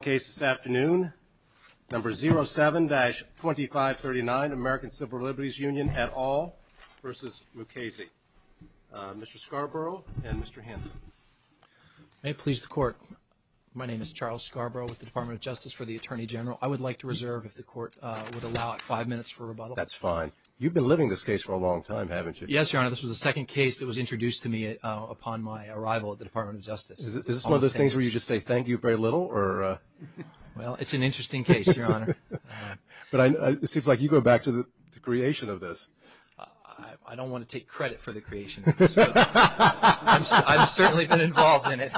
The case this afternoon, number 07-2539, American Civil Liberties Union et al. v. Mukasey. Mr. Scarborough and Mr. Hanson. May it please the Court. My name is Charles Scarborough with the Department of Justice for the Attorney General. I would like to reserve, if the Court would allow, five minutes for rebuttal. That's fine. You've been living this case for a long time, haven't you? Yes, Your Honor. This was the second case that was introduced to me upon my arrival at the Department of Justice. Is this one of those things where you just say, thank you very little? Well, it's an interesting case, Your Honor. But it seems like you go back to the creation of this. I don't want to take credit for the creation of this. I've certainly been involved in it.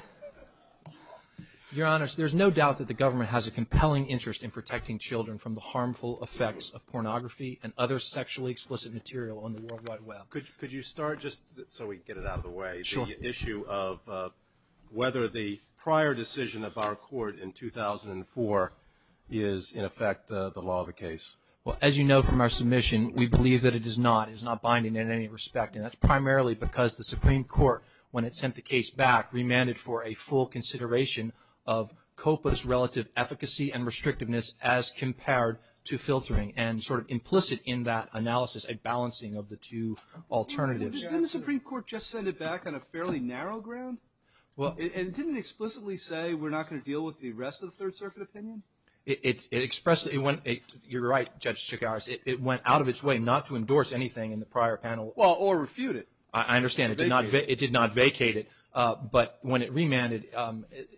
Your Honor, there's no doubt that the government has a compelling interest in protecting children from the harmful effects of pornography and other sexually explicit material on the World Wide Web. Could you start, just so we can get it out of the way, the issue of whether the prior decision of our Court in 2004 is, in effect, the law of the case? Well, as you know from our submission, we believe that it is not. It is not binding in any respect. And that's primarily because the Supreme Court, when it sent the case back, remanded for a full consideration of COPA's relative efficacy and restrictiveness as compared to filtering and sort of implicit in that analysis a balancing of the two alternatives. Didn't the Supreme Court just send it back on a fairly narrow ground? And didn't it explicitly say we're not going to deal with the rest of the Third Circuit opinion? You're right, Judge Chigars. It went out of its way not to endorse anything in the prior panel. Well, or refute it. I understand. It did not vacate it. But when it remanded,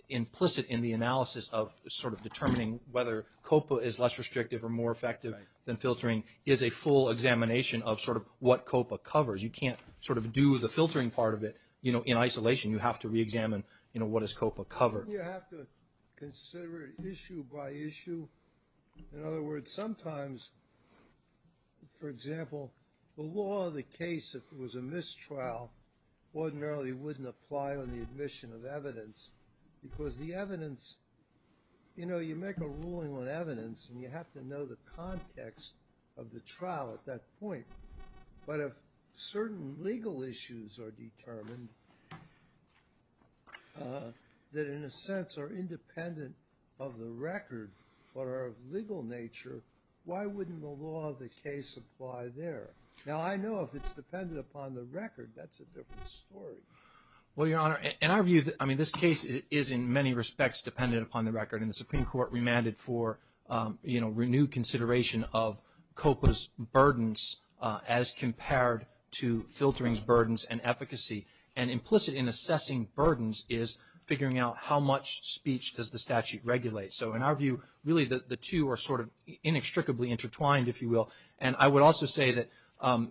implicit in the analysis of sort of determining whether COPA is less restrictive or more effective than filtering is a full examination of sort of what COPA covers. You can't sort of do the filtering part of it in isolation. You have to reexamine what does COPA cover. You have to consider it issue by issue. In other words, sometimes, for example, the law of the case, if it was a mistrial, ordinarily wouldn't apply on the admission of evidence because the evidence, you know, you make a ruling on evidence and you have to know the context of the trial at that point. But if certain legal issues are determined that in a sense are independent of the record or are of legal nature, why wouldn't the law of the case apply there? Now, I know if it's dependent upon the record, that's a different story. Well, Your Honor, in our view, I mean, this case is in many respects dependent upon the record. And the Supreme Court remanded for, you know, renewed consideration of COPA's burdens as compared to filtering's burdens and efficacy. And implicit in assessing burdens is figuring out how much speech does the statute regulate. So in our view, really the two are sort of inextricably intertwined, if you will. And I would also say that,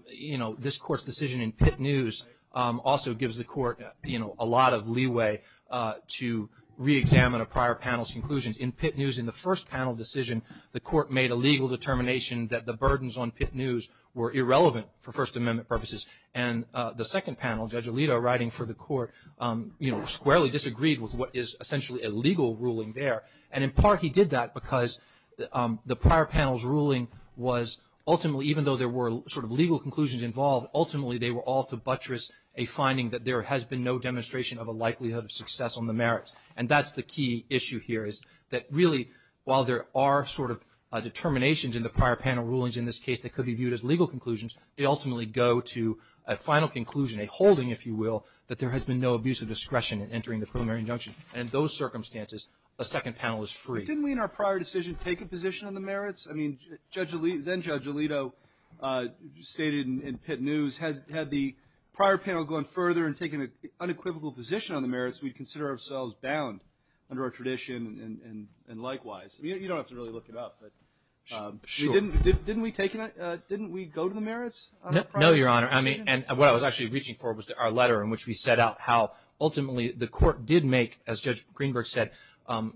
you know, this Court's decision in Pitt News also gives the Court, you know, a lot of leeway to reexamine a prior panel's conclusions. In Pitt News, in the first panel decision, the Court made a legal determination that the burdens on Pitt News were irrelevant for First Amendment purposes. And the second panel, Judge Alito writing for the Court, you know, squarely disagreed with what is essentially a legal ruling there. And in part he did that because the prior panel's ruling was ultimately, even though there were sort of legal conclusions involved, ultimately they were all to buttress a finding that there has been no demonstration of a likelihood of success on the merits. And that's the key issue here is that really while there are sort of determinations in the prior panel rulings in this case that could be viewed as legal conclusions, they ultimately go to a final conclusion, a holding, if you will, that there has been no abuse of discretion in entering the preliminary injunction. And in those circumstances, a second panel is free. I mean, then-Judge Alito stated in Pitt News, had the prior panel gone further and taken an unequivocal position on the merits, we'd consider ourselves bound under our tradition and likewise. You don't have to really look it up, but didn't we go to the merits? No, Your Honor. I mean, and what I was actually reaching for was our letter in which we set out how ultimately the Court did make, as Judge Greenberg said,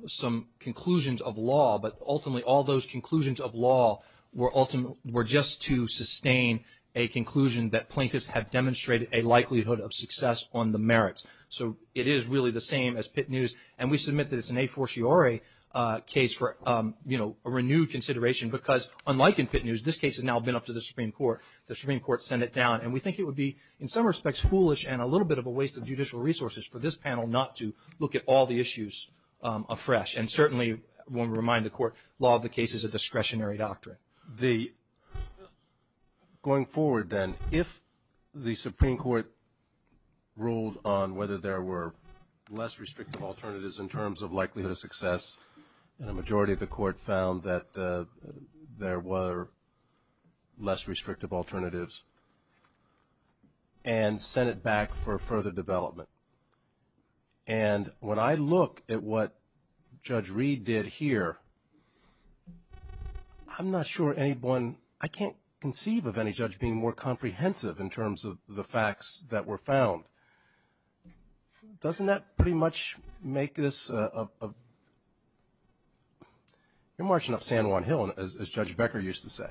some conclusions of law, but ultimately all those conclusions of law were just to sustain a conclusion that plaintiffs have demonstrated a likelihood of success on the merits. So it is really the same as Pitt News, and we submit that it's an a fortiori case for, you know, a renewed consideration because unlike in Pitt News, this case has now been up to the Supreme Court. The Supreme Court sent it down, and we think it would be in some respects foolish and a little bit of a waste of judicial resources for this panel not to look at all the issues afresh. And certainly, I want to remind the Court, law of the case is a discretionary doctrine. Going forward then, if the Supreme Court ruled on whether there were less restrictive alternatives in terms of likelihood of success, and a majority of the Court found that there were less restrictive alternatives and sent it back for further development. And when I look at what Judge Reed did here, I'm not sure anyone, I can't conceive of any judge being more comprehensive in terms of the facts that were found. Doesn't that pretty much make this a, you're marching up San Juan Hill, as Judge Becker used to say.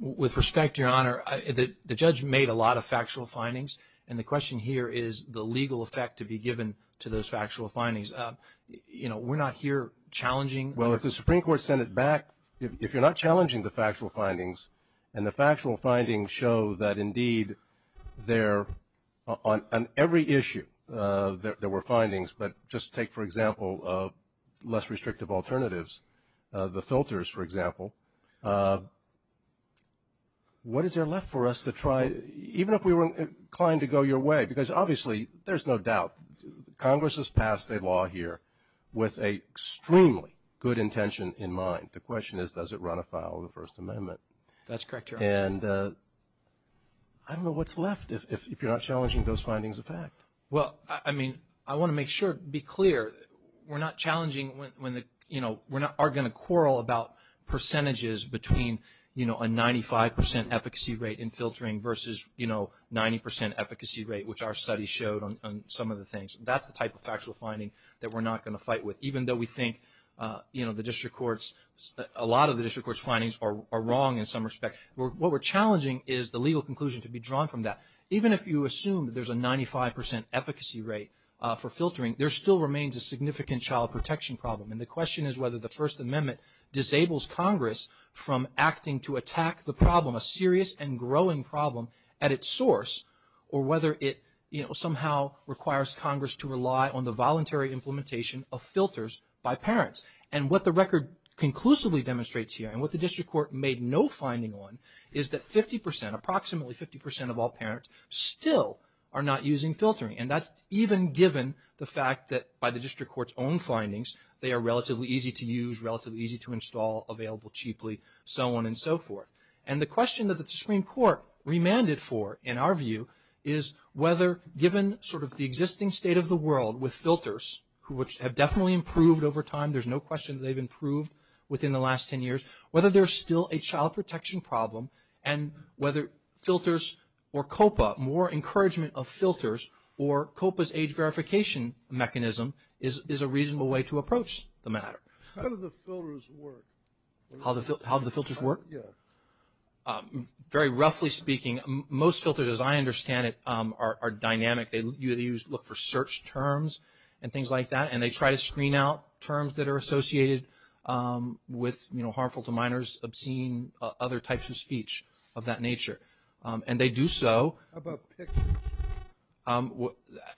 With respect, Your Honor, the judge made a lot of factual findings, and the question here is the legal effect to be given to those factual findings. You know, we're not here challenging. Well, if the Supreme Court sent it back, if you're not challenging the factual findings, and the factual findings show that indeed there, on every issue, there were findings, but just take, for example, less restrictive alternatives, the filters, for example. What is there left for us to try, even if we were inclined to go your way, because obviously there's no doubt Congress has passed a law here with an extremely good intention in mind. The question is, does it run afoul of the First Amendment? That's correct, Your Honor. And I don't know what's left if you're not challenging those findings of fact. Well, I mean, I want to make sure, be clear, we're not challenging when the, you know, we're not going to quarrel about percentages between, you know, a 95 percent efficacy rate in filtering versus, you know, 90 percent efficacy rate, which our study showed on some of the things. That's the type of factual finding that we're not going to fight with, even though we think, you know, the district courts, a lot of the district court's findings are wrong in some respect. What we're challenging is the legal conclusion to be drawn from that. Even if you assume that there's a 95 percent efficacy rate for filtering, there still remains a significant child protection problem, and the question is whether the First Amendment disables Congress from acting to attack the problem, a serious and growing problem at its source, or whether it, you know, somehow requires Congress to rely on the voluntary implementation of filters by parents. And what the record conclusively demonstrates here, and what the district court made no finding on, is that 50 percent, approximately 50 percent of all parents, still are not using filtering. And that's even given the fact that by the district court's own findings, they are relatively easy to use, relatively easy to install, available cheaply, so on and so forth. And the question that the Supreme Court remanded for, in our view, is whether given sort of the existing state of the world with filters, which have definitely improved over time, there's no question they've improved within the last 10 years, whether there's still a child protection problem, and whether filters or COPA, more encouragement of filters or COPA's age verification mechanism is a reasonable way to approach the matter. How do the filters work? Very roughly speaking, most filters, as I understand it, are dynamic. They look for search terms and things like that, and they try to screen out terms that are associated with, you know, harmful to minors, obscene, other types of speech of that nature. And they do so.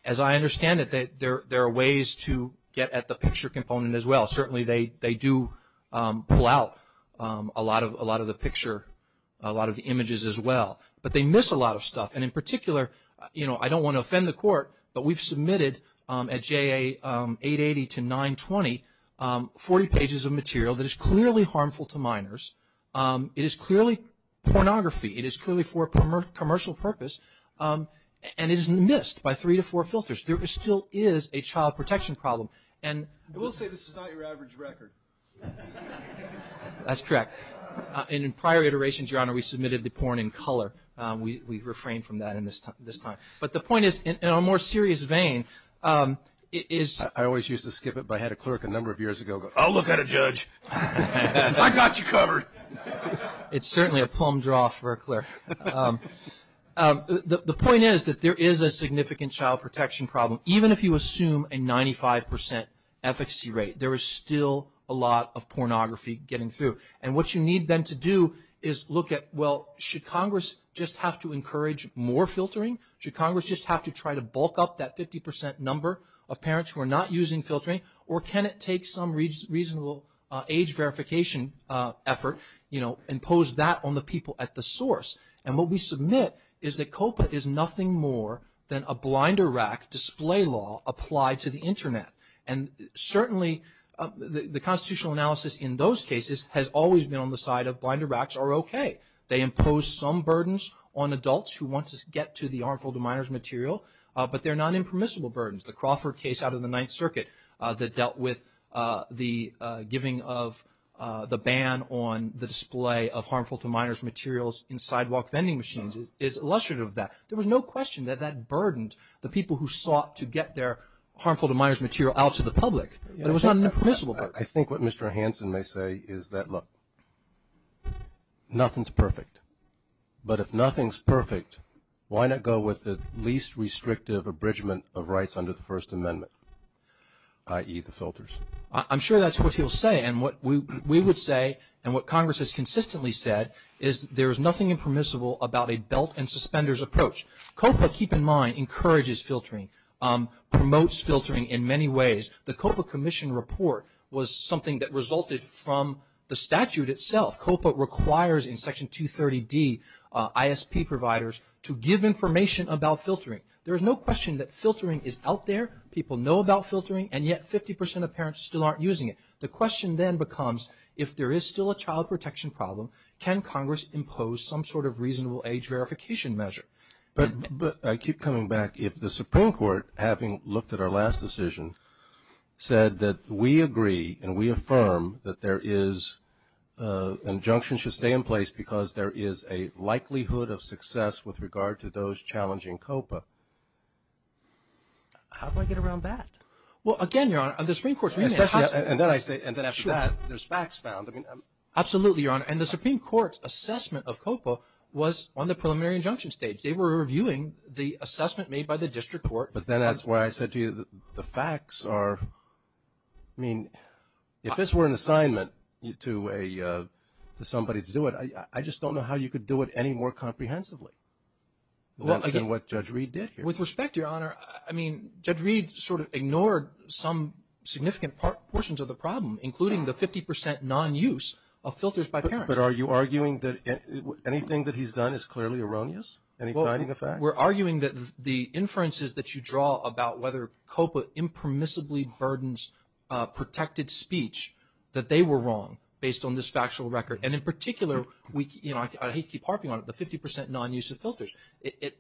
As I understand it, there are ways to get at the picture component as well. Certainly they do pull out a lot of the picture, a lot of the images as well. But they miss a lot of stuff, and in particular, you know, I don't want to offend the court, but we've submitted at JA 880 to 920 40 pages of material that is clearly harmful to minors. It is clearly pornography. It is clearly for a commercial purpose, and it is missed by three to four filters. There still is a child protection problem. I will say this is not your average record. That's correct. And in prior iterations, Your Honor, we submitted the porn in color. We've refrained from that this time. But the point is, in a more serious vein, it is... I always used to skip it, but I had a clerk a number of years ago go, I'll look at it, Judge. I got you covered. It's certainly a plum draw for a clerk. The point is that there is a significant child protection problem. Even if you assume a 95% efficacy rate, there is still a lot of pornography getting through. And what you need then to do is look at, well, should Congress just have to encourage more filtering? Should Congress just have to try to bulk up that 50% number of parents who are not using filtering? Or can it take some reasonable age verification effort, impose that on the people at the source? And what we submit is that COPA is nothing more than a blinder rack display law applied to the Internet. And certainly the constitutional analysis in those cases has always been on the side of blinder racks are okay. They impose some burdens on adults who want to get to the harmful to minors material, but they're not impermissible burdens. The Crawford case out of the Ninth Circuit that dealt with the giving of the ban on the display of harmful to minors materials in sidewalk vending machines is illustrative of that. There was no question that that burdened the people who sought to get their harmful to minors material out to the public. It was not an impermissible burden. I think what Mr. Hansen may say is that, look, nothing's perfect. But if nothing's perfect, why not go with the least restrictive abridgment of rights under the First Amendment, i.e. the filters? I'm sure that's what he'll say. And what we would say and what Congress has consistently said is there is nothing impermissible about a belt and suspenders approach. COPA, keep in mind, encourages filtering, promotes filtering in many ways. The COPA commission report was something that resulted from the statute itself. COPA requires in Section 230D ISP providers to give information about filtering. There is no question that filtering is out there. People know about filtering, and yet 50 percent of parents still aren't using it. The question then becomes if there is still a child protection problem, can Congress impose some sort of reasonable age verification measure? But I keep coming back. If the Supreme Court, having looked at our last decision, said that we agree and we affirm that there is an injunction should stay in place because there is a likelihood of success with regard to those challenging COPA, how do I get around that? Well, again, Your Honor, the Supreme Court's reasoning has to be... Absolutely, Your Honor, and the Supreme Court's assessment of COPA was on the preliminary injunction stage. They were reviewing the assessment made by the district court. But then that's why I said to you the facts are, I mean, if this were an assignment to somebody to do it, I just don't know how you could do it any more comprehensively than what Judge Reed did here. With respect, Your Honor, I mean, Judge Reed sort of ignored some significant portions of the problem, including the 50 percent non-use of filters by parents. But are you arguing that anything that he's done is clearly erroneous? We're arguing that the inferences that you draw about whether COPA impermissibly burdens protected speech, that they were wrong based on this factual record. And in particular, I hate to keep harping on it, the 50 percent non-use of filters.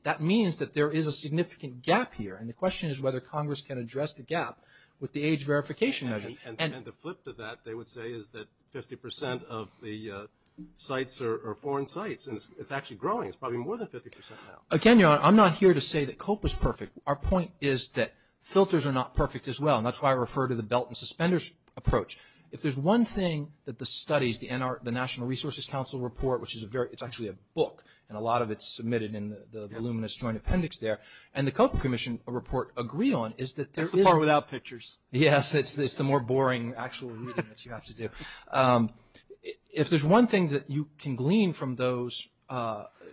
That means that there is a significant gap here, and the question is whether Congress can address the gap with the age verification measure. And to flip to that, they would say is that 50 percent of the sites are foreign sites, and it's actually growing. It's probably more than 50 percent now. Again, Your Honor, I'm not here to say that COPA's perfect. Our point is that filters are not perfect as well, and that's why I refer to the belt and suspenders approach. If there's one thing that the studies, the National Resources Council report, which is a very, it's actually a book, and a lot of it's submitted in the voluminous joint appendix there, and the COPA Commission report agree on is that there is... It's the part without pictures. Yes, it's the more boring actual reading that you have to do. If there's one thing that you can glean from those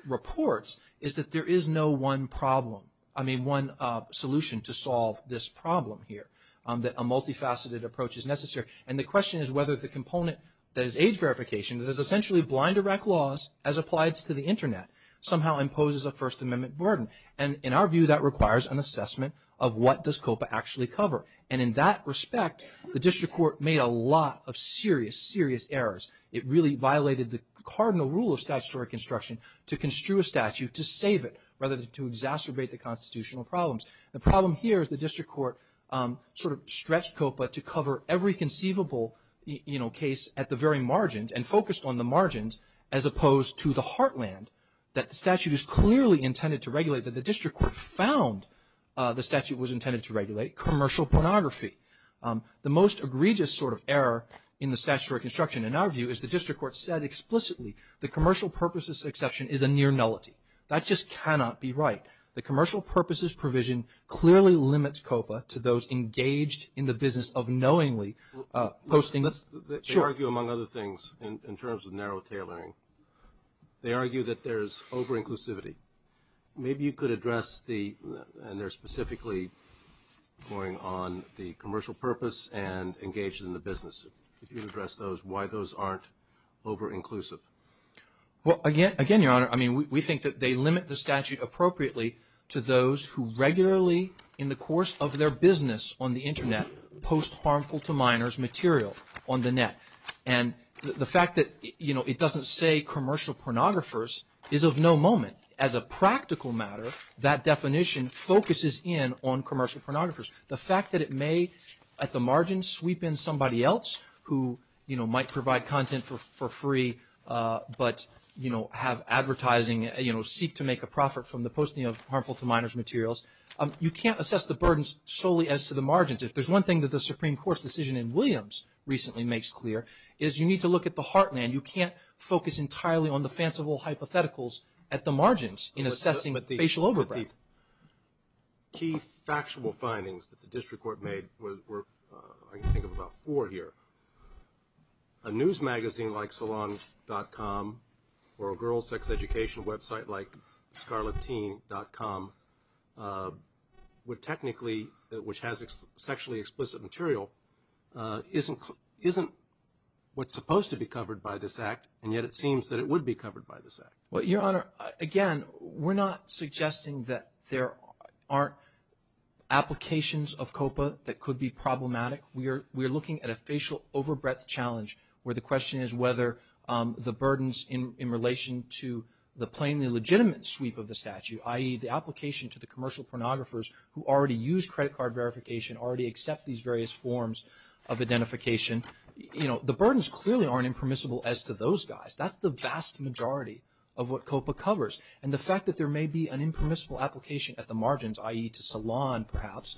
reports is that there is no one problem, I mean one solution to solve this problem here, that a multifaceted approach is necessary. And the question is whether the component that is age verification, that is essentially blind direct laws as applied to the Internet, somehow imposes a First Amendment burden. And in our view, that requires an assessment of what does COPA actually cover. And in that respect, the district court made a lot of serious, serious errors. It really violated the cardinal rule of statutory construction to construe a statute to save it, rather than to exacerbate the constitutional problems. The problem here is the district court sort of stretched COPA to cover every conceivable case at the very margins and focused on the margins as opposed to the heartland that the statute is clearly intended to regulate, that the district court found the statute was intended to regulate commercial pornography. The most egregious sort of error in the statutory construction in our view is the district court said explicitly the commercial purposes exception is a near nullity. That just cannot be right. The commercial purposes provision clearly limits COPA to those engaged in the business of knowingly posting. They argue among other things in terms of narrow tailoring. They argue that there is over-inclusivity. Maybe you could address the, and they're specifically going on the commercial purpose and engaged in the business. If you could address those, why those aren't over-inclusive. Again, Your Honor, we think that they limit the statute appropriately to those who regularly in the course of their business on the internet post harmful to minors material on the net. The fact that it doesn't say commercial pornographers is of no moment. As a practical matter, that definition focuses in on commercial pornographers. The fact that it may at the margins sweep in somebody else who might provide content for free, but have advertising, seek to make a profit from the posting of harmful to minors materials. You can't assess the burdens solely as to the margins. If there's one thing that the Supreme Court's decision in Williams recently makes clear, is you need to look at the heartland. You can't focus entirely on the fanciful hypotheticals at the margins in assessing facial overgrowth. One of the key factual findings that the district court made, I can think of about four here, a news magazine like Salon.com or a girls' sex education website like Scarletteen.com would technically, which has sexually explicit material, isn't what's supposed to be covered by this act, and yet it seems that it would be covered by this act. Your Honor, again, we're not suggesting that there aren't applications of COPA that could be problematic. We're looking at a facial overbreath challenge where the question is whether the burdens in relation to the plainly legitimate sweep of the statute, i.e. the application to the commercial pornographers who already use credit card verification, already accept these various forms of identification, the burdens clearly aren't impermissible as to those guys. That's the vast majority of what COPA covers, and the fact that there may be an impermissible application at the margins, i.e. to Salon, perhaps,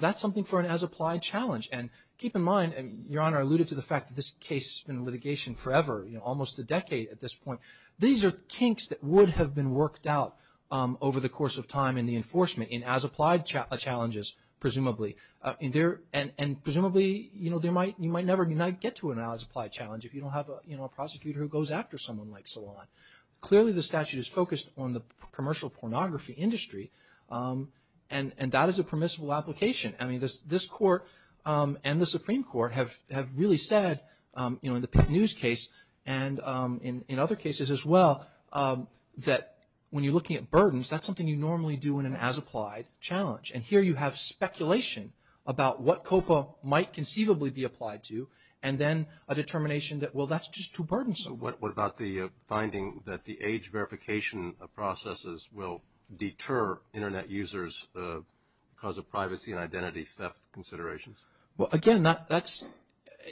that's something for an as-applied challenge. And keep in mind, Your Honor, I alluded to the fact that this case has been in litigation forever, almost a decade at this point. These are kinks that would have been worked out over the course of time in the enforcement in as-applied challenges, presumably. And presumably you might never get to an as-applied challenge if you don't have a prosecutor who goes after someone like Salon. Clearly the statute is focused on the commercial pornography industry, and that is a permissible application. I mean, this Court and the Supreme Court have really said, you know, in the Pitt News case and in other cases as well, that when you're looking at burdens, that's something you normally do in an as-applied challenge. And here you have speculation about what COPA might conceivably be applied to, and then a determination that, well, that's just too burdensome. What about the finding that the age verification processes will deter Internet users because of privacy and identity theft considerations? Well, again, that's,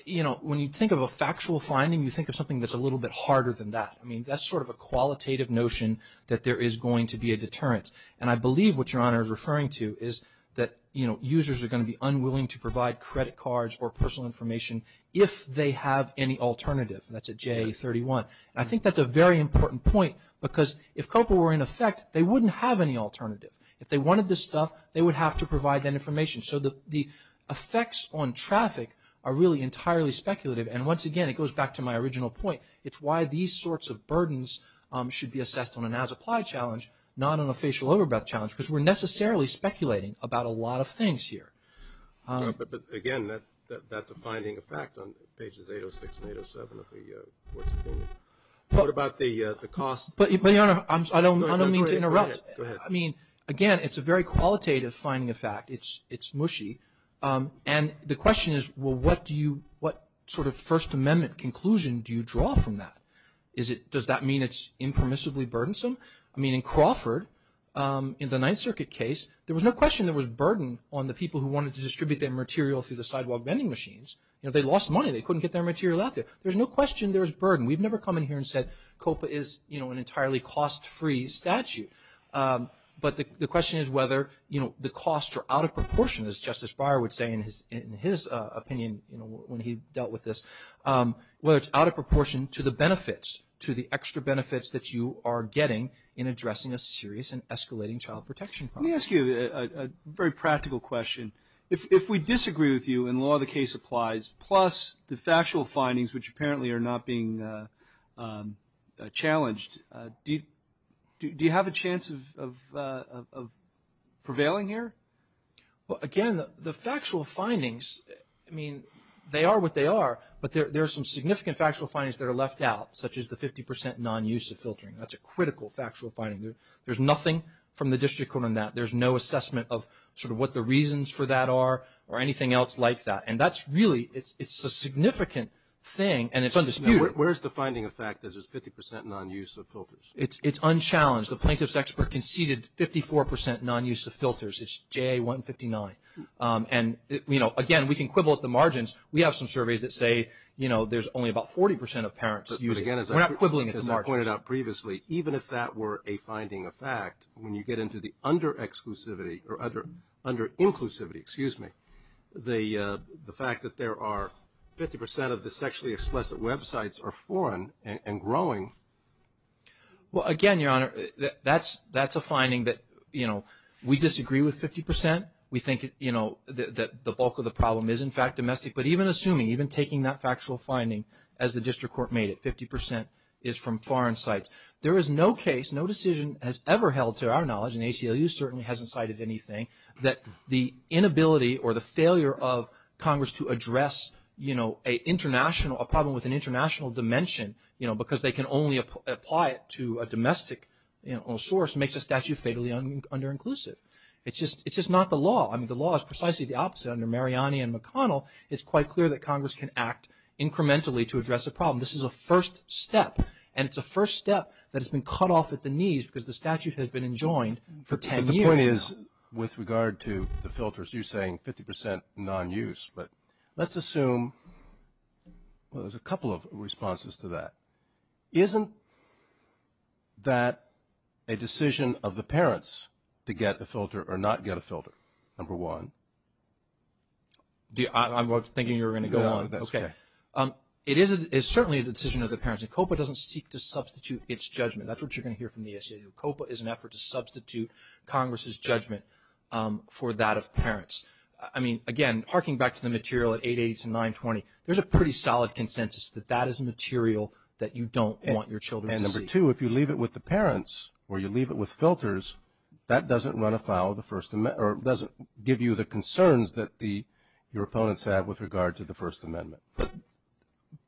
you know, when you think of a factual finding, you think of something that's a little bit harder than that. I mean, that's sort of a qualitative notion that there is going to be a deterrent. And I believe what Your Honor is referring to is that, you know, users are going to be unwilling to provide credit cards or personal information if they have any alternative. That's at J31. And I think that's a very important point because if COPA were in effect, they wouldn't have any alternative. If they wanted this stuff, they would have to provide that information. So the effects on traffic are really entirely speculative. And once again, it goes back to my original point. It's why these sorts of burdens should be assessed on an as-applied challenge, not on a facial over-breath challenge because we're necessarily speculating about a lot of things here. But again, that's a finding of fact on pages 806 and 807 of the Court's opinion. What about the cost? But Your Honor, I don't mean to interrupt. Go ahead. I mean, again, it's a very qualitative finding of fact. It's mushy. And the question is, well, what sort of First Amendment conclusion do you draw from that? Does that mean it's impermissibly burdensome? I mean, in Crawford, in the Ninth Circuit case, there was no question there was burden on the people who wanted to distribute their material through the sidewalk vending machines. They lost money. They couldn't get their material out there. There's no question there was burden. We've never come in here and said COPA is an entirely cost-free statute. But the question is whether the costs are out of proportion, as Justice Breyer would say in his opinion when he dealt with this, whether it's out of proportion to the benefits, to the extra benefits that you are getting in addressing a serious and escalating child protection problem. Let me ask you a very practical question. If we disagree with you and law of the case applies, plus the factual findings, which apparently are not being challenged, do you have a chance of prevailing here? Well, again, the factual findings, I mean, they are what they are, but there are some significant factual findings that are left out, such as the 50 percent non-use of filtering. That's a critical factual finding. There's nothing from the district court on that. There's no assessment of sort of what the reasons for that are or anything else like that. And that's really, it's a significant thing, and it's undisputed. Where is the finding of fact that there's 50 percent non-use of filters? It's unchallenged. The plaintiff's expert conceded 54 percent non-use of filters. It's JA 159. And, you know, again, we can quibble at the margins. We have some surveys that say, you know, there's only about 40 percent of parents using it. We're not quibbling at the margins. And previously, even if that were a finding of fact, when you get into the under-exclusivity or under-inclusivity, excuse me, the fact that there are 50 percent of the sexually explicit websites are foreign and growing. Well, again, Your Honor, that's a finding that, you know, we disagree with 50 percent. We think, you know, that the bulk of the problem is, in fact, domestic. But even assuming, even taking that factual finding as the district court made it, there is no case, no decision has ever held to our knowledge, and ACLU certainly hasn't cited anything, that the inability or the failure of Congress to address, you know, a problem with an international dimension, you know, because they can only apply it to a domestic source makes a statute fatally under-inclusive. It's just not the law. I mean, the law is precisely the opposite under Mariani and McConnell. It's quite clear that Congress can act incrementally to address a problem. This is a first step. And it's a first step that has been cut off at the knees because the statute has been enjoined for 10 years now. But the point is, with regard to the filters, you're saying 50 percent non-use. But let's assume, well, there's a couple of responses to that. Isn't that a decision of the parents to get a filter or not get a filter, number one? I was thinking you were going to go on. No, that's okay. It is certainly a decision of the parents. And COPA doesn't seek to substitute its judgment. That's what you're going to hear from the ACLU. COPA is an effort to substitute Congress's judgment for that of parents. I mean, again, harking back to the material at 880 to 920, there's a pretty solid consensus that that is material that you don't want your children to see. And number two, if you leave it with the parents or you leave it with filters, that doesn't run afoul of the First Amendment or doesn't give you the concerns that your opponents have with regard to the First Amendment.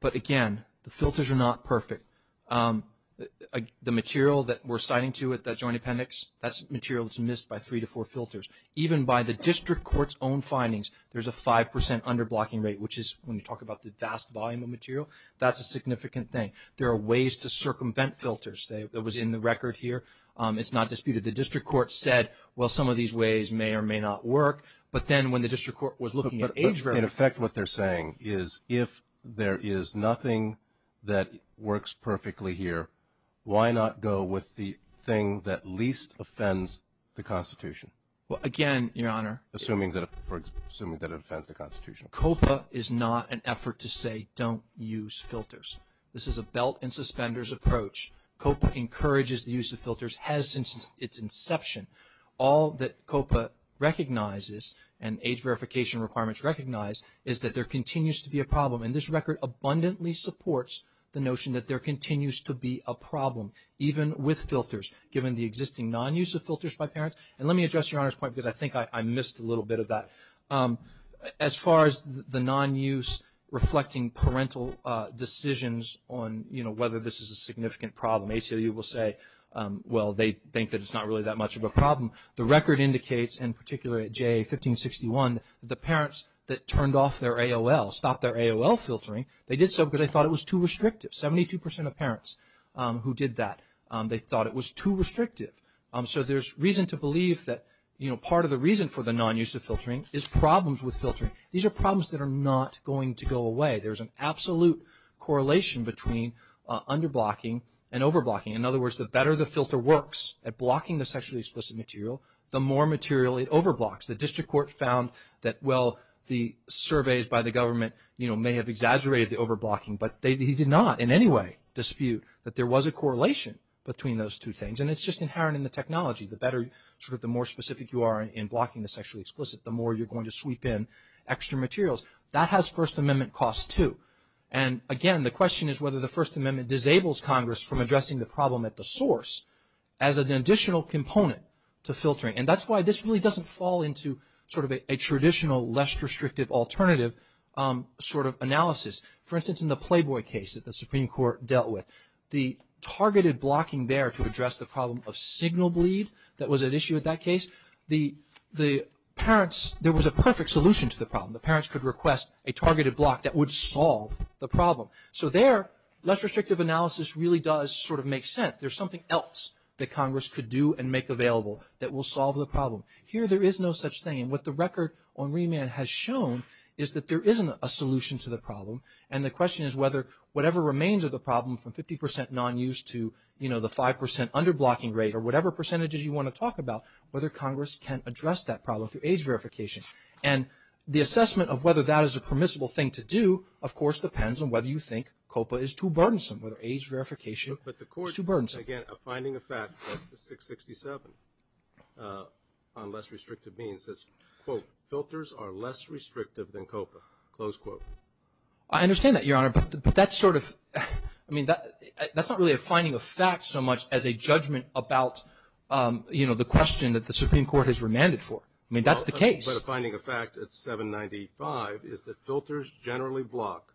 But, again, the filters are not perfect. The material that we're citing to you with that joint appendix, that's material that's missed by three to four filters. Even by the district court's own findings, there's a 5 percent underblocking rate, which is when you talk about the vast volume of material, that's a significant thing. There are ways to circumvent filters. That was in the record here. It's not disputed. The district court said, well, some of these ways may or may not work. But then when the district court was looking at age verification. But, in effect, what they're saying is if there is nothing that works perfectly here, why not go with the thing that least offends the Constitution? Well, again, Your Honor. Assuming that it offends the Constitution. COPA is not an effort to say don't use filters. This is a belt and suspenders approach. COPA encourages the use of filters, has since its inception. All that COPA recognizes, and age verification requirements recognize, is that there continues to be a problem. And this record abundantly supports the notion that there continues to be a problem, even with filters, given the existing non-use of filters by parents. And let me address Your Honor's point because I think I missed a little bit of that. As far as the non-use reflecting parental decisions on, you know, whether this is a significant problem, ACLU will say, well, they think that it's not really that much of a problem. The record indicates, in particular at JA 1561, the parents that turned off their AOL, stopped their AOL filtering, they did so because they thought it was too restrictive. Seventy-two percent of parents who did that, they thought it was too restrictive. So there's reason to believe that, you know, part of the reason for the non-use of filtering is problems with filtering. These are problems that are not going to go away. There's an absolute correlation between under-blocking and over-blocking. In other words, the better the filter works at blocking the sexually explicit material, the more material it over-blocks. The district court found that, well, the surveys by the government, you know, may have exaggerated the over-blocking, but they did not in any way dispute that there was a correlation between those two things. And it's just inherent in the technology. The better, sort of the more specific you are in blocking the sexually explicit, the more you're going to sweep in extra materials. That has First Amendment costs, too. And, again, the question is whether the First Amendment disables Congress from addressing the problem at the source as an additional component to filtering. And that's why this really doesn't fall into sort of a traditional, less restrictive alternative sort of analysis. For instance, in the Playboy case that the Supreme Court dealt with, the targeted blocking there to address the problem of signal bleed that was at issue in that case, there was a perfect solution to the problem. The parents could request a targeted block that would solve the problem. So there, less restrictive analysis really does sort of make sense. There's something else that Congress could do and make available that will solve the problem. Here, there is no such thing. And what the record on remand has shown is that there isn't a solution to the problem. And the question is whether whatever remains of the problem from 50 percent non-use to, you know, the 5 percent under-blocking rate or whatever percentages you want to talk about, whether Congress can address that problem through age verification. And the assessment of whether that is a permissible thing to do, of course, depends on whether you think COPA is too burdensome, whether age verification is too burdensome. But the court, again, a finding of fact of 667 on less restrictive means, is, quote, filters are less restrictive than COPA, close quote. I understand that, Your Honor, but that's sort of, I mean, that's not really a finding of fact so much as a judgment about, you know, the question that the Supreme Court has remanded for. I mean, that's the case. But a finding of fact at 795 is that filters generally block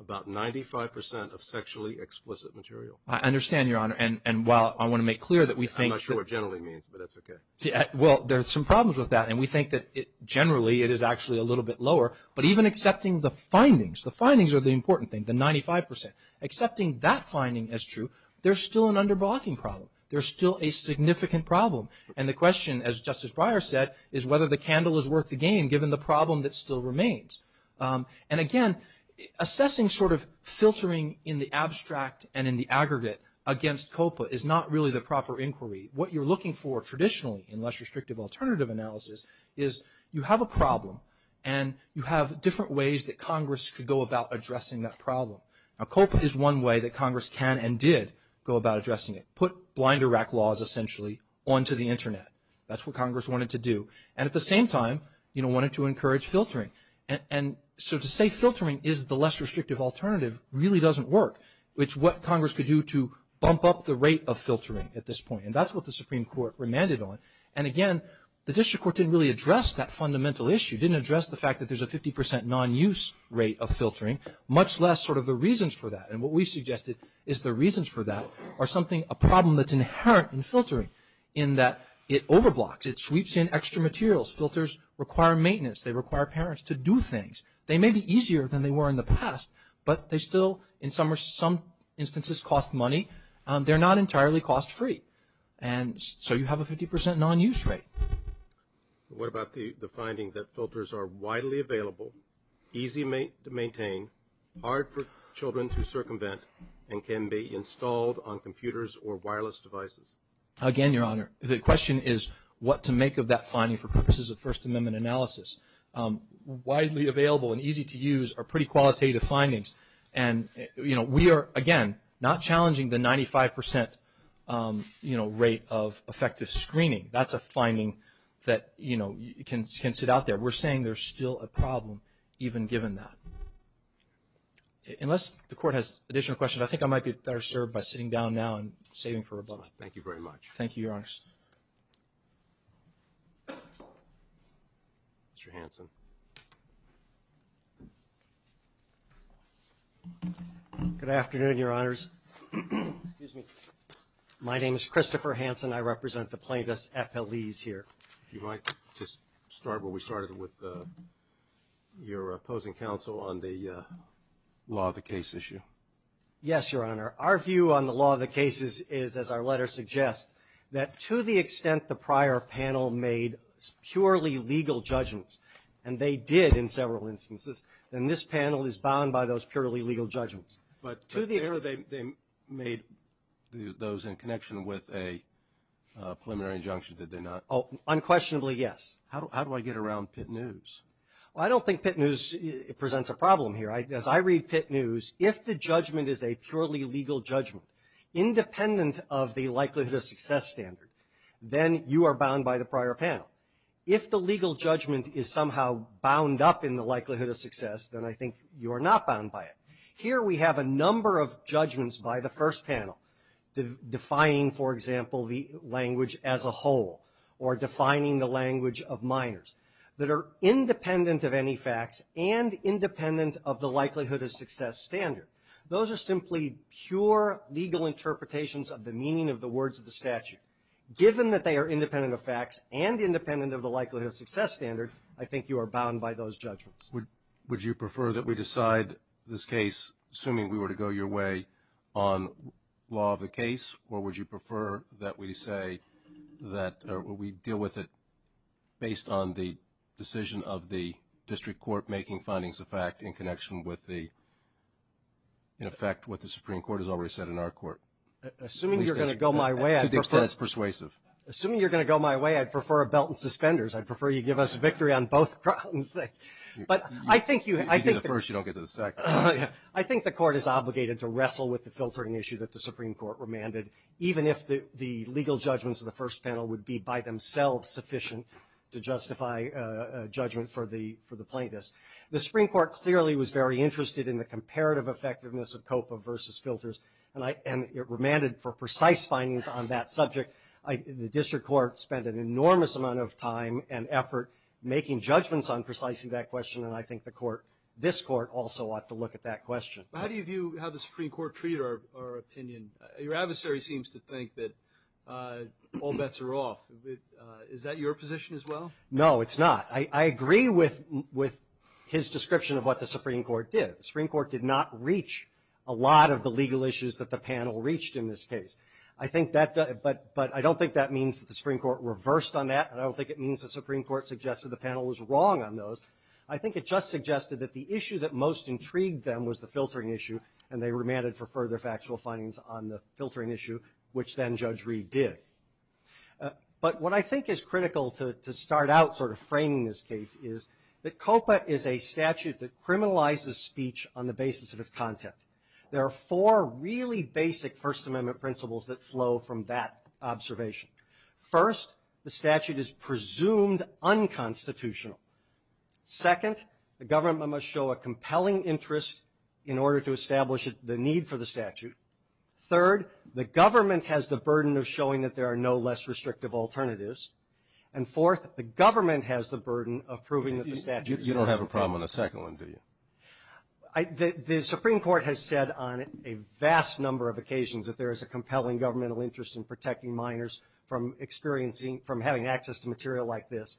about 95 percent of sexually explicit material. I understand, Your Honor. And while I want to make clear that we think. I'm not sure what generally means, but that's okay. Well, there are some problems with that, and we think that generally it is actually a little bit lower. But even accepting the findings, the findings are the important thing, the 95 percent. Accepting that finding as true, there's still an under-blocking problem. There's still a significant problem. And the question, as Justice Breyer said, is whether the candle is worth the game given the problem that still remains. And, again, assessing sort of filtering in the abstract and in the aggregate against COPA is not really the proper inquiry. What you're looking for traditionally in less restrictive alternative analysis is you have a problem and you have different ways that Congress could go about addressing that problem. Now, COPA is one way that Congress can and did go about addressing it. Put blind Iraq laws, essentially, onto the Internet. That's what Congress wanted to do. And at the same time, you know, wanted to encourage filtering. And so to say filtering is the less restrictive alternative really doesn't work. It's what Congress could do to bump up the rate of filtering at this point. And that's what the Supreme Court remanded on. And, again, the district court didn't really address that fundamental issue, didn't address the fact that there's a 50 percent non-use rate of filtering, much less sort of the reasons for that. And what we suggested is the reasons for that are something, a problem that's inherent in filtering in that it overblocks. It sweeps in extra materials. Filters require maintenance. They require parents to do things. They may be easier than they were in the past, but they still, in some instances, cost money. They're not entirely cost free. And so you have a 50 percent non-use rate. What about the finding that filters are widely available, easy to maintain, hard for children to circumvent, and can be installed on computers or wireless devices? Again, Your Honor, the question is what to make of that finding for purposes of First Amendment analysis. Widely available and easy to use are pretty qualitative findings. And, you know, we are, again, not challenging the 95 percent, you know, rate of effective screening. That's a finding that, you know, can sit out there. We're saying there's still a problem even given that. Unless the Court has additional questions, I think I might be better served by sitting down now and saving for rebuttal. Thank you very much. Thank you, Your Honor. Mr. Hanson. Good afternoon, Your Honors. Excuse me. My name is Christopher Hanson. I represent the plaintiffs' FLEs here. If you might just start where we started with your opposing counsel on the law of the case issue. Yes, Your Honor. Our view on the law of the cases is, as our letter suggests, that to the extent the prior panel made purely legal judgments, and they did in several instances, then this panel is bound by those purely legal judgments. But there they made those in connection with a preliminary injunction, did they not? Unquestionably, yes. How do I get around Pitt News? Well, I don't think Pitt News presents a problem here. As I read Pitt News, if the judgment is a purely legal judgment, independent of the likelihood of success standard, then you are bound by the prior panel. If the legal judgment is somehow bound up in the likelihood of success, then I think you are not bound by it. Here we have a number of judgments by the first panel, defining, for example, the language as a whole, or defining the language of minors, that are independent of any facts and independent of the likelihood of success standard. Those are simply pure legal interpretations of the meaning of the words of the statute. Given that they are independent of facts and independent of the likelihood of success standard, I think you are bound by those judgments. Would you prefer that we decide this case, assuming we were to go your way, on law of the case, or would you prefer that we deal with it based on the decision of the district court making findings of fact in connection with, in effect, what the Supreme Court has already said in our court? Assuming you are going to go my way, I'd prefer a belt and suspenders. I'd prefer you give us victory on both grounds. If you do the first, you don't get to the second. I think the court is obligated to wrestle with the filtering issue that the Supreme Court remanded, even if the legal judgments of the first panel would be by themselves sufficient to justify judgment for the plaintiffs. The Supreme Court clearly was very interested in the comparative effectiveness of COPA versus filters, and it remanded for precise findings on that subject. The district court spent an enormous amount of time and effort making judgments on precisely that question, and I think this court also ought to look at that question. How do you view how the Supreme Court treated our opinion? Your adversary seems to think that all bets are off. Is that your position as well? No, it's not. I agree with his description of what the Supreme Court did. The Supreme Court did not reach a lot of the legal issues that the panel reached in this case. But I don't think that means that the Supreme Court reversed on that, and I don't think it means the Supreme Court suggested the panel was wrong on those. I think it just suggested that the issue that most intrigued them was the filtering issue, and they remanded for further factual findings on the filtering issue, which then Judge Reed did. But what I think is critical to start out sort of framing this case is that COPA is a statute that criminalizes speech on the basis of its content. There are four really basic First Amendment principles that flow from that observation. First, the statute is presumed unconstitutional. Second, the government must show a compelling interest in order to establish the need for the statute. Third, the government has the burden of showing that there are no less restrictive alternatives. And fourth, the government has the burden of proving that the statute is unconstitutional. You don't have a problem on the second one, do you? The Supreme Court has said on a vast number of occasions that there is a compelling governmental interest in protecting minors from having access to material like this.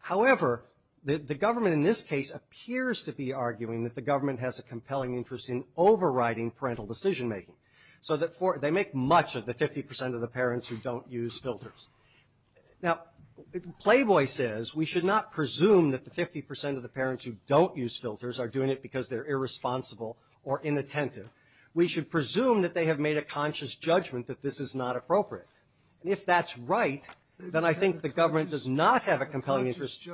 However, the government in this case appears to be arguing that the government has a compelling interest in overriding parental decision making. So they make much of the 50% of the parents who don't use filters. Now, Playboy says we should not presume that the 50% of the parents who don't use filters are doing it because they're irresponsible or inattentive. We should presume that they have made a conscious judgment that this is not appropriate. And if that's right, then I think the government does not have a compelling interest.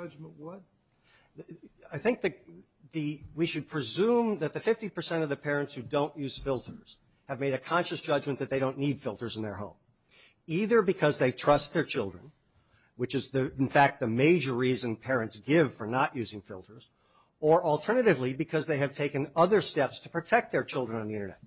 I think that we should presume that the 50% of the parents who don't use filters have made a conscious judgment that they don't need filters in their home, either because they trust their children, which is, in fact, the major reason parents give for not using filters, or alternatively because they have taken other steps to protect their children on the Internet.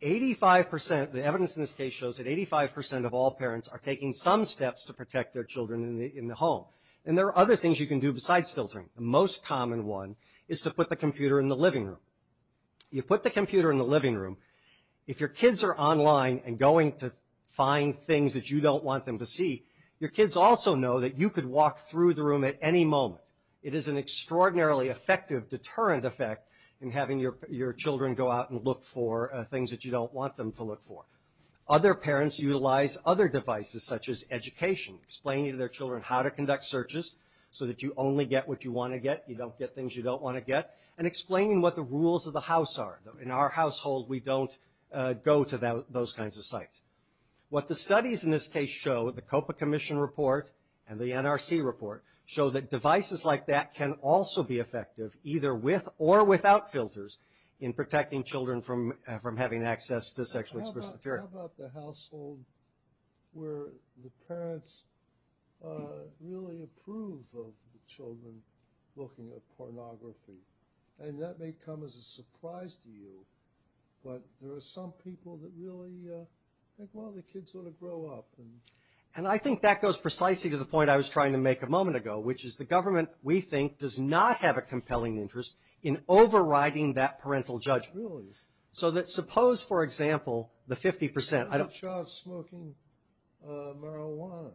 The evidence in this case shows that 85% of all parents are taking some steps to protect their children in the home. And there are other things you can do besides filtering. The most common one is to put the computer in the living room. You put the computer in the living room. If your kids are online and going to find things that you don't want them to see, your kids also know that you could walk through the room at any moment. It is an extraordinarily effective deterrent effect in having your children go out and look for things that you don't want them to look for. Other parents utilize other devices, such as education, explaining to their children how to conduct searches, so that you only get what you want to get, you don't get things you don't want to get, and explaining what the rules of the house are. In our household, we don't go to those kinds of sites. What the studies in this case show, the COPA Commission report and the NRC report, show that devices like that can also be effective, either with or without filters, in protecting children from having access to sexually explicit material. How about the household where the parents really approve of the children looking at pornography? And that may come as a surprise to you, but there are some people that really think, well, the kids ought to grow up. And I think that goes precisely to the point I was trying to make a moment ago, which is the government, we think, does not have a compelling interest in overriding that parental judgment. Really? So that suppose, for example, the 50%. A child smoking marijuana,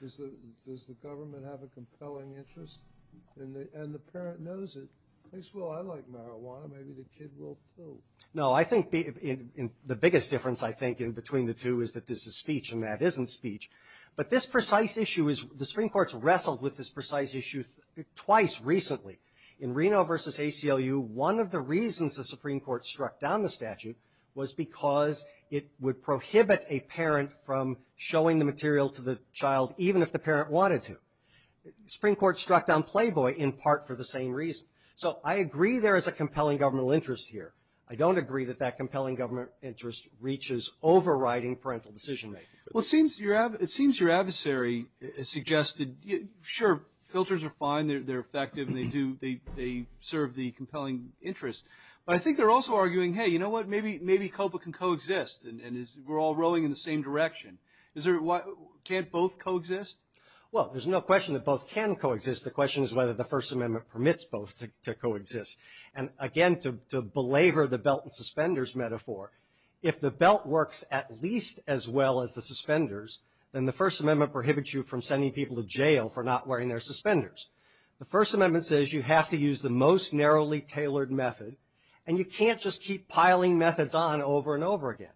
does the government have a compelling interest? And the parent knows it. They say, well, I like marijuana, maybe the kid will too. No, I think the biggest difference, I think, in between the two is that this is speech and that isn't speech. But this precise issue is, the Supreme Court's wrestled with this precise issue twice recently. In Reno versus ACLU, one of the reasons the Supreme Court struck down the statute was because it would prohibit a parent from showing the material to the child, even if the parent wanted to. The Supreme Court struck down Playboy in part for the same reason. So I agree there is a compelling governmental interest here. I don't agree that that compelling government interest reaches overriding parental decision-making. Well, it seems your adversary has suggested, sure, filters are fine, they're effective, and they serve the compelling interest. But I think they're also arguing, hey, you know what, maybe COPA can coexist, and we're all rowing in the same direction. Can't both coexist? Well, there's no question that both can coexist. The question is whether the First Amendment permits both to coexist. And, again, to belabor the belt and suspenders metaphor, if the belt works at least as well as the suspenders, then the First Amendment prohibits you from sending people to jail for not wearing their suspenders. The First Amendment says you have to use the most narrowly tailored method, and you can't just keep piling methods on over and over again.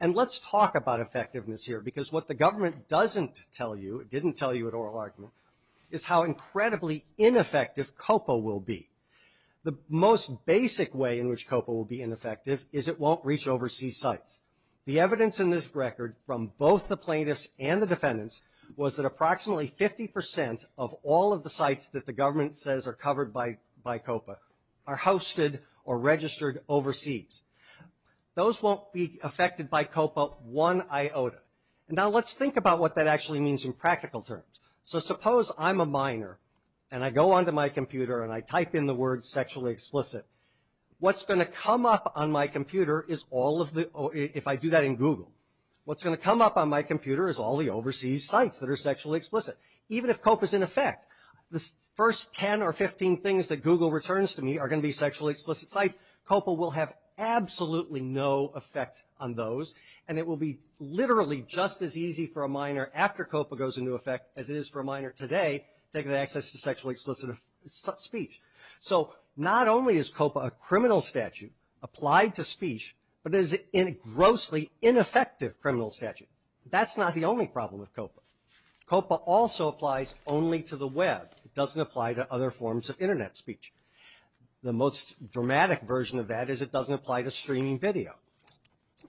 And let's talk about effectiveness here, because what the government doesn't tell you, it didn't tell you at oral argument, is how incredibly ineffective COPA will be. The most basic way in which COPA will be ineffective is it won't reach overseas sites. The evidence in this record from both the plaintiffs and the defendants was that approximately 50 percent of all of the sites that the government says are covered by COPA are hosted or registered overseas. Those won't be affected by COPA one iota. And now let's think about what that actually means in practical terms. So suppose I'm a minor and I go onto my computer and I type in the word sexually explicit. What's going to come up on my computer is all of the, if I do that in Google, what's going to come up on my computer is all the overseas sites that are sexually explicit. Even if COPA is in effect, the first 10 or 15 things that Google returns to me are going to be sexually explicit sites. COPA will have absolutely no effect on those. And it will be literally just as easy for a minor, after COPA goes into effect, as it is for a minor today taking access to sexually explicit speech. So not only is COPA a criminal statute applied to speech, but it is a grossly ineffective criminal statute. That's not the only problem with COPA. COPA also applies only to the web. It doesn't apply to other forms of Internet speech. The most dramatic version of that is it doesn't apply to streaming video.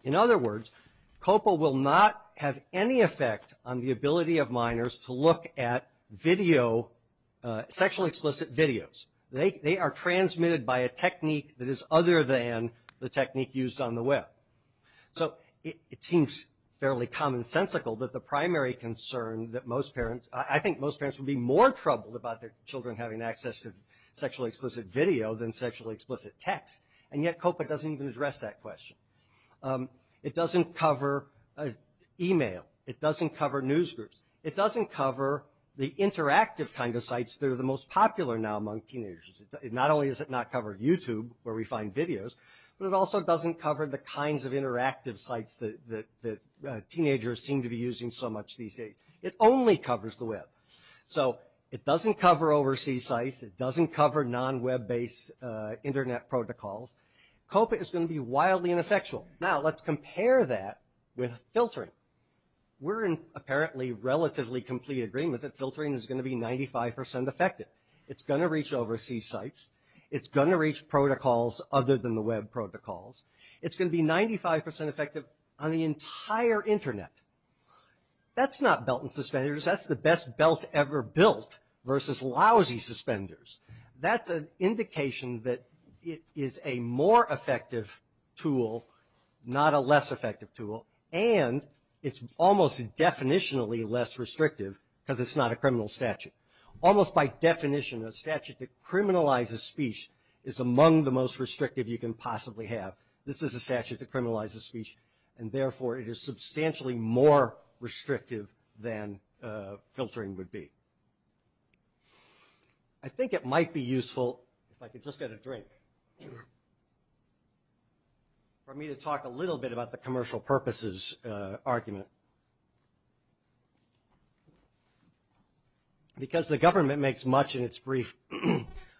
In other words, COPA will not have any effect on the ability of minors to look at video, sexually explicit videos. They are transmitted by a technique that is other than the technique used on the web. So it seems fairly commonsensical that the primary concern that most parents, I think most parents would be more troubled about their children having access to sexually explicit video than sexually explicit text. And yet COPA doesn't even address that question. It doesn't cover email. It doesn't cover news groups. It doesn't cover the interactive kind of sites that are the most popular now among teenagers. Not only does it not cover YouTube, where we find videos, but it also doesn't cover the kinds of interactive sites that teenagers seem to be using so much these days. It only covers the web. So it doesn't cover overseas sites. It doesn't cover non-web based Internet protocols. COPA is going to be wildly ineffectual. Now let's compare that with filtering. We're in apparently relatively complete agreement that filtering is going to be 95% effective. It's going to reach overseas sites. It's going to reach protocols other than the web protocols. It's going to be 95% effective on the entire Internet. That's not belt and suspenders. That's the best belt ever built versus lousy suspenders. That's an indication that it is a more effective tool, not a less effective tool, and it's almost definitionally less restrictive because it's not a criminal statute. Almost by definition, a statute that criminalizes speech is among the most restrictive you can possibly have. This is a statute that criminalizes speech, and therefore it is substantially more restrictive than filtering would be. I think it might be useful, if I could just get a drink, for me to talk a little bit about the commercial purposes argument. Because the government makes much in its brief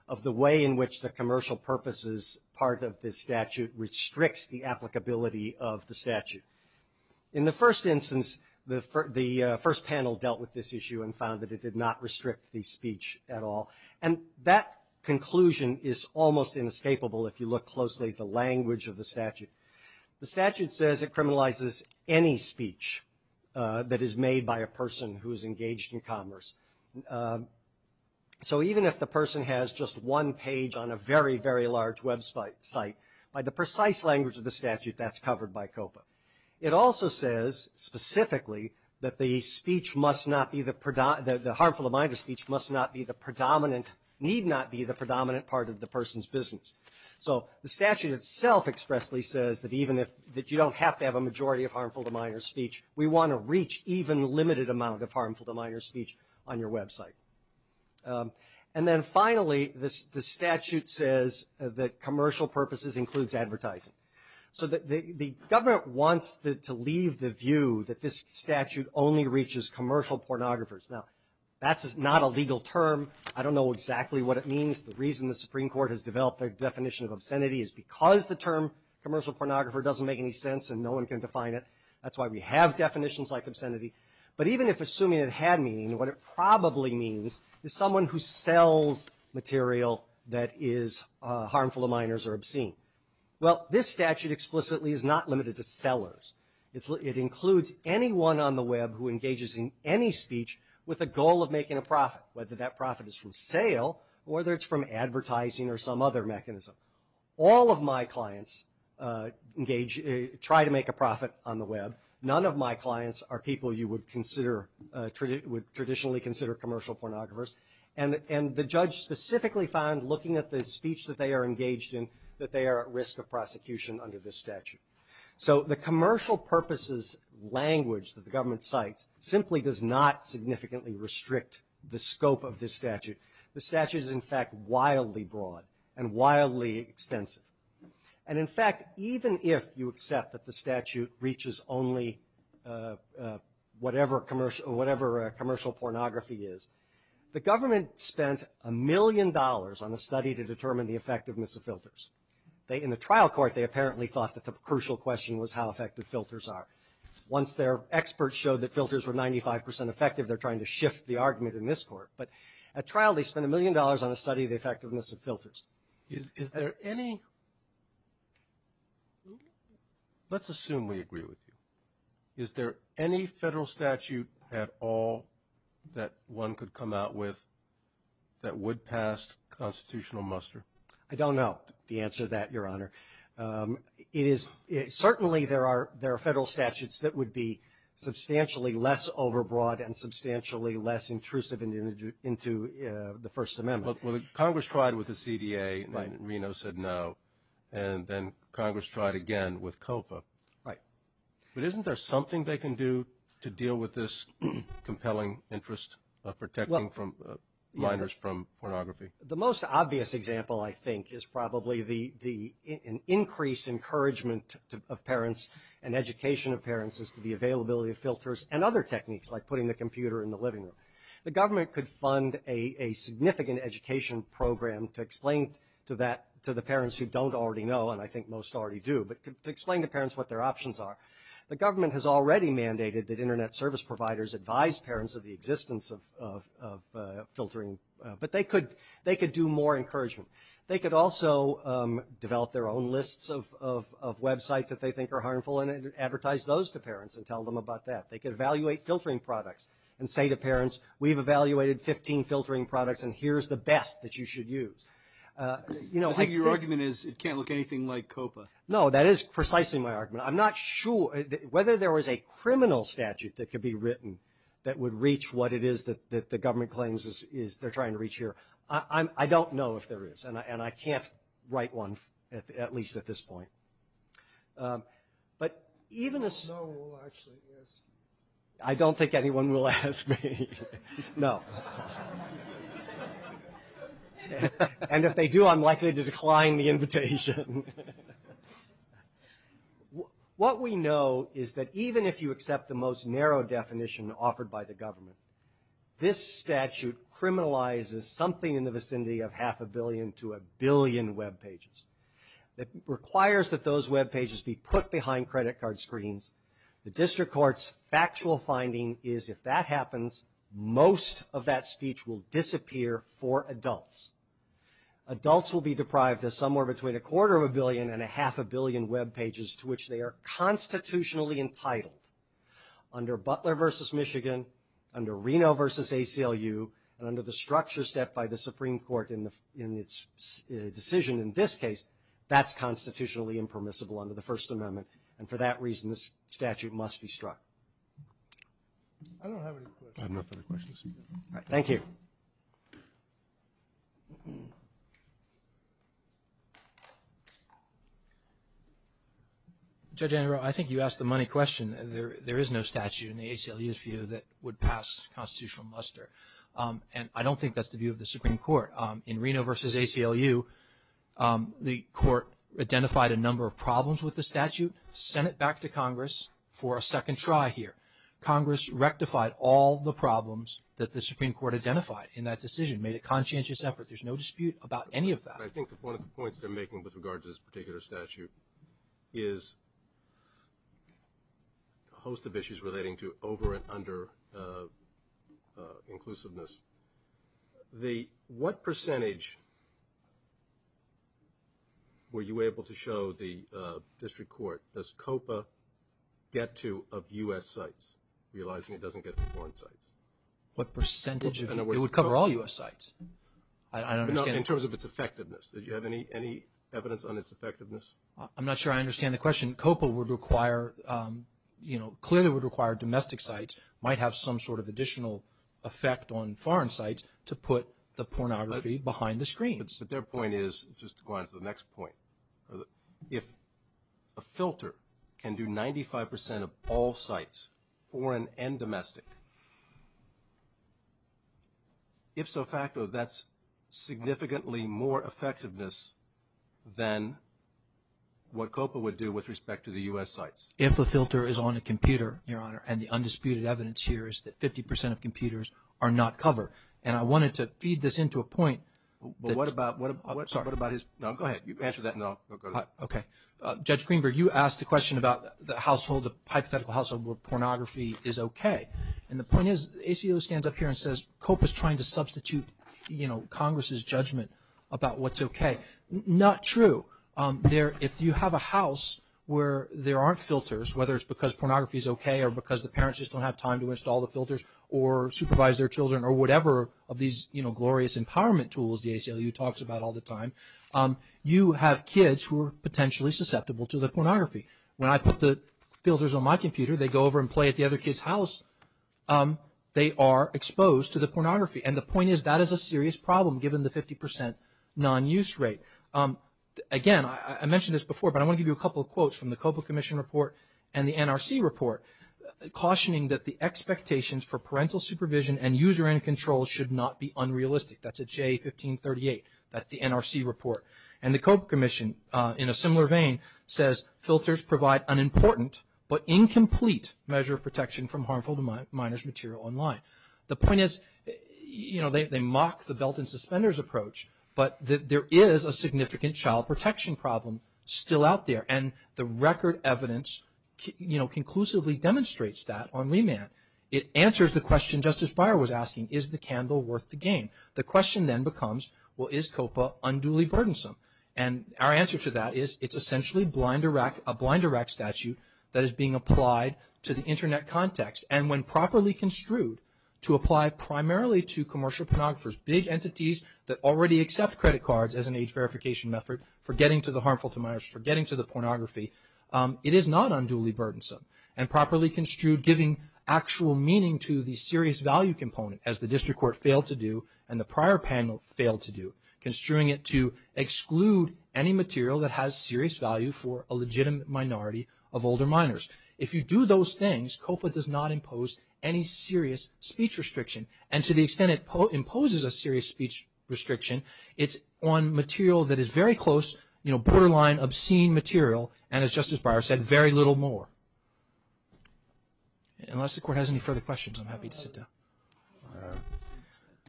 of the way in which the commercial purposes part of this statute restricts the applicability of the statute. In the first instance, the first panel dealt with this issue and found that it did not restrict the speech at all, and that conclusion is almost inescapable if you look closely at the language of the statute. The statute says it criminalizes any speech that is made by a person who is engaged in commerce. So even if the person has just one page on a very, very large website, by the precise language of the statute, that's covered by COPA. It also says specifically that the speech must not be, the harmful to the mind of speech must not be the predominant, need not be the predominant part of the person's business. So the statute itself expressly says that even if, that you don't have to have a majority of harmful to minor speech, we want to reach even limited amount of harmful to minor speech on your website. And then finally, the statute says that commercial purposes includes advertising. So the government wants to leave the view that this statute only reaches commercial pornographers. Now, that's not a legal term. I don't know exactly what it means. The reason the Supreme Court has developed their definition of obscenity is because the term commercial pornographer doesn't make any sense and no one can define it. That's why we have definitions like obscenity. But even if assuming it had meaning, what it probably means is someone who sells material that is harmful to minors or obscene. Well, this statute explicitly is not limited to sellers. It includes anyone on the web who engages in any speech with a goal of making a profit, whether that profit is from sale or whether it's from advertising or some other mechanism. All of my clients try to make a profit on the web. None of my clients are people you would traditionally consider commercial pornographers. And the judge specifically found, looking at the speech that they are engaged in, that they are at risk of prosecution under this statute. So the commercial purposes language that the government cites simply does not significantly restrict the scope of this statute. The statute is, in fact, wildly broad and wildly extensive. And, in fact, even if you accept that the statute reaches only whatever commercial pornography is, the government spent a million dollars on a study to determine the effectiveness of filters. In the trial court, they apparently thought that the crucial question was how effective filters are. Once their experts showed that filters were 95 percent effective, they're trying to shift the argument in this court. But at trial, they spent a million dollars on a study of the effectiveness of filters. Is there any – let's assume we agree with you. Is there any federal statute at all that one could come out with that would pass constitutional muster? I don't know the answer to that, Your Honor. It is – certainly there are federal statutes that would be substantially less overbroad and substantially less intrusive into the First Amendment. Well, Congress tried with the CDA and Reno said no. And then Congress tried again with COPA. Right. But isn't there something they can do to deal with this compelling interest of protecting minors from pornography? The most obvious example, I think, is probably the increased encouragement of parents and education of parents as to the availability of filters and other techniques like putting the computer in the living room. The government could fund a significant education program to explain to that – to the parents who don't already know, and I think most already do, but to explain to parents what their options are. The government has already mandated that Internet service providers advise parents of the existence of filtering. But they could do more encouragement. They could also develop their own lists of websites that they think are harmful and advertise those to parents and tell them about that. They could evaluate filtering products and say to parents, we've evaluated 15 filtering products and here's the best that you should use. I think your argument is it can't look anything like COPA. No, that is precisely my argument. I'm not sure whether there was a criminal statute that could be written that would reach what it is that the government claims they're trying to reach here. I don't know if there is, and I can't write one, at least at this point. No one will actually ask you. I don't think anyone will ask me. No. And if they do, I'm likely to decline the invitation. What we know is that even if you accept the most narrow definition offered by the government, this statute criminalizes something in the vicinity of half a billion to a billion webpages. It requires that those webpages be put behind credit card screens. The district court's factual finding is if that happens, most of that speech will disappear for adults. Adults will be deprived of somewhere between a quarter of a billion and a half a billion webpages to which they are constitutionally entitled. Under Butler v. Michigan, under Reno v. ACLU, and under the structure set by the Supreme Court in its decision in this case, that's constitutionally impermissible under the First Amendment, and for that reason this statute must be struck. I don't have any questions. I have no further questions. All right. Thank you. Judge Andrew, I think you asked the money question. There is no statute in the ACLU's view that would pass constitutional muster, and I don't think that's the view of the Supreme Court. In Reno v. ACLU, the court identified a number of problems with the statute, sent it back to Congress for a second try here. Congress rectified all the problems that the Supreme Court identified in that decision, made a conscientious effort. There's no dispute about any of that. I think one of the points they're making with regards to this particular statute is a host of issues relating to over and under inclusiveness. What percentage were you able to show the district court, does COPA get to of U.S. sites, realizing it doesn't get to foreign sites? What percentage? It would cover all U.S. sites. In terms of its effectiveness, did you have any evidence on its effectiveness? I'm not sure I understand the question. COPA would require, you know, clearly would require domestic sites might have some sort of additional effect on foreign sites to put the pornography behind the screens. But their point is, just to go on to the next point, if a filter can do 95% of all sites, foreign and domestic, if so facto that's significantly more effectiveness than what COPA would do with respect to the U.S. sites. If a filter is on a computer, Your Honor, and the undisputed evidence here is that 50% of computers are not covered. And I wanted to feed this into a point. But what about his, no, go ahead. You answer that and then I'll go to that. Okay. Judge Greenberg, you asked the question about the household, the hypothetical household where pornography is okay. And the point is, ACO stands up here and says COPA is trying to substitute, you know, Congress's judgment about what's okay. Not true. If you have a house where there aren't filters, whether it's because pornography is okay or because the parents just don't have time to install the filters or supervise their children or whatever of these, you know, glorious empowerment tools the ACLU talks about all the time, you have kids who are potentially susceptible to the pornography. When I put the filters on my computer, they go over and play at the other kid's house, they are exposed to the pornography. And the point is that is a serious problem given the 50% non-use rate. Again, I mentioned this before, but I want to give you a couple of quotes from the COPA Commission report and the NRC report cautioning that the expectations for parental supervision and user end control should not be unrealistic. That's at J1538. That's the NRC report. And the COPA Commission, in a similar vein, says filters provide an important but incomplete measure of protection from harmful to minors material online. The point is, you know, they mock the belt and suspenders approach, but there is a significant child protection problem still out there. And the record evidence, you know, conclusively demonstrates that on remand. It answers the question Justice Breyer was asking, is the candle worth the game? The question then becomes, well, is COPA unduly burdensome? And our answer to that is it's essentially a blind Iraq statute that is being applied to the Internet context. And when properly construed to apply primarily to commercial pornographers, big entities that already accept credit cards as an age verification method for getting to the harmful to minors, for getting to the pornography, it is not unduly burdensome. And properly construed giving actual meaning to the serious value component, as the district court failed to do and the prior panel failed to do, construing it to exclude any material that has serious value for a legitimate minority of older minors. If you do those things, COPA does not impose any serious speech restriction. And to the extent it imposes a serious speech restriction, it's on material that is very close, you know, borderline obscene material, and as Justice Breyer said, very little more. Unless the court has any further questions, I'm happy to sit down.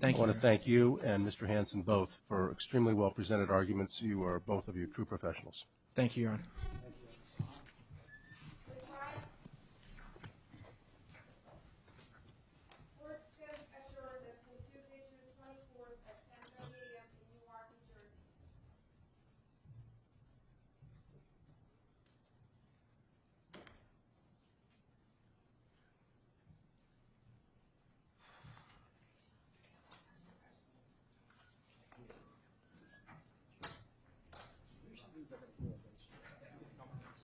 Thank you. I want to thank you and Mr. Hanson both for extremely well presented arguments. Thank you, Your Honor. Thank you, Your Honor.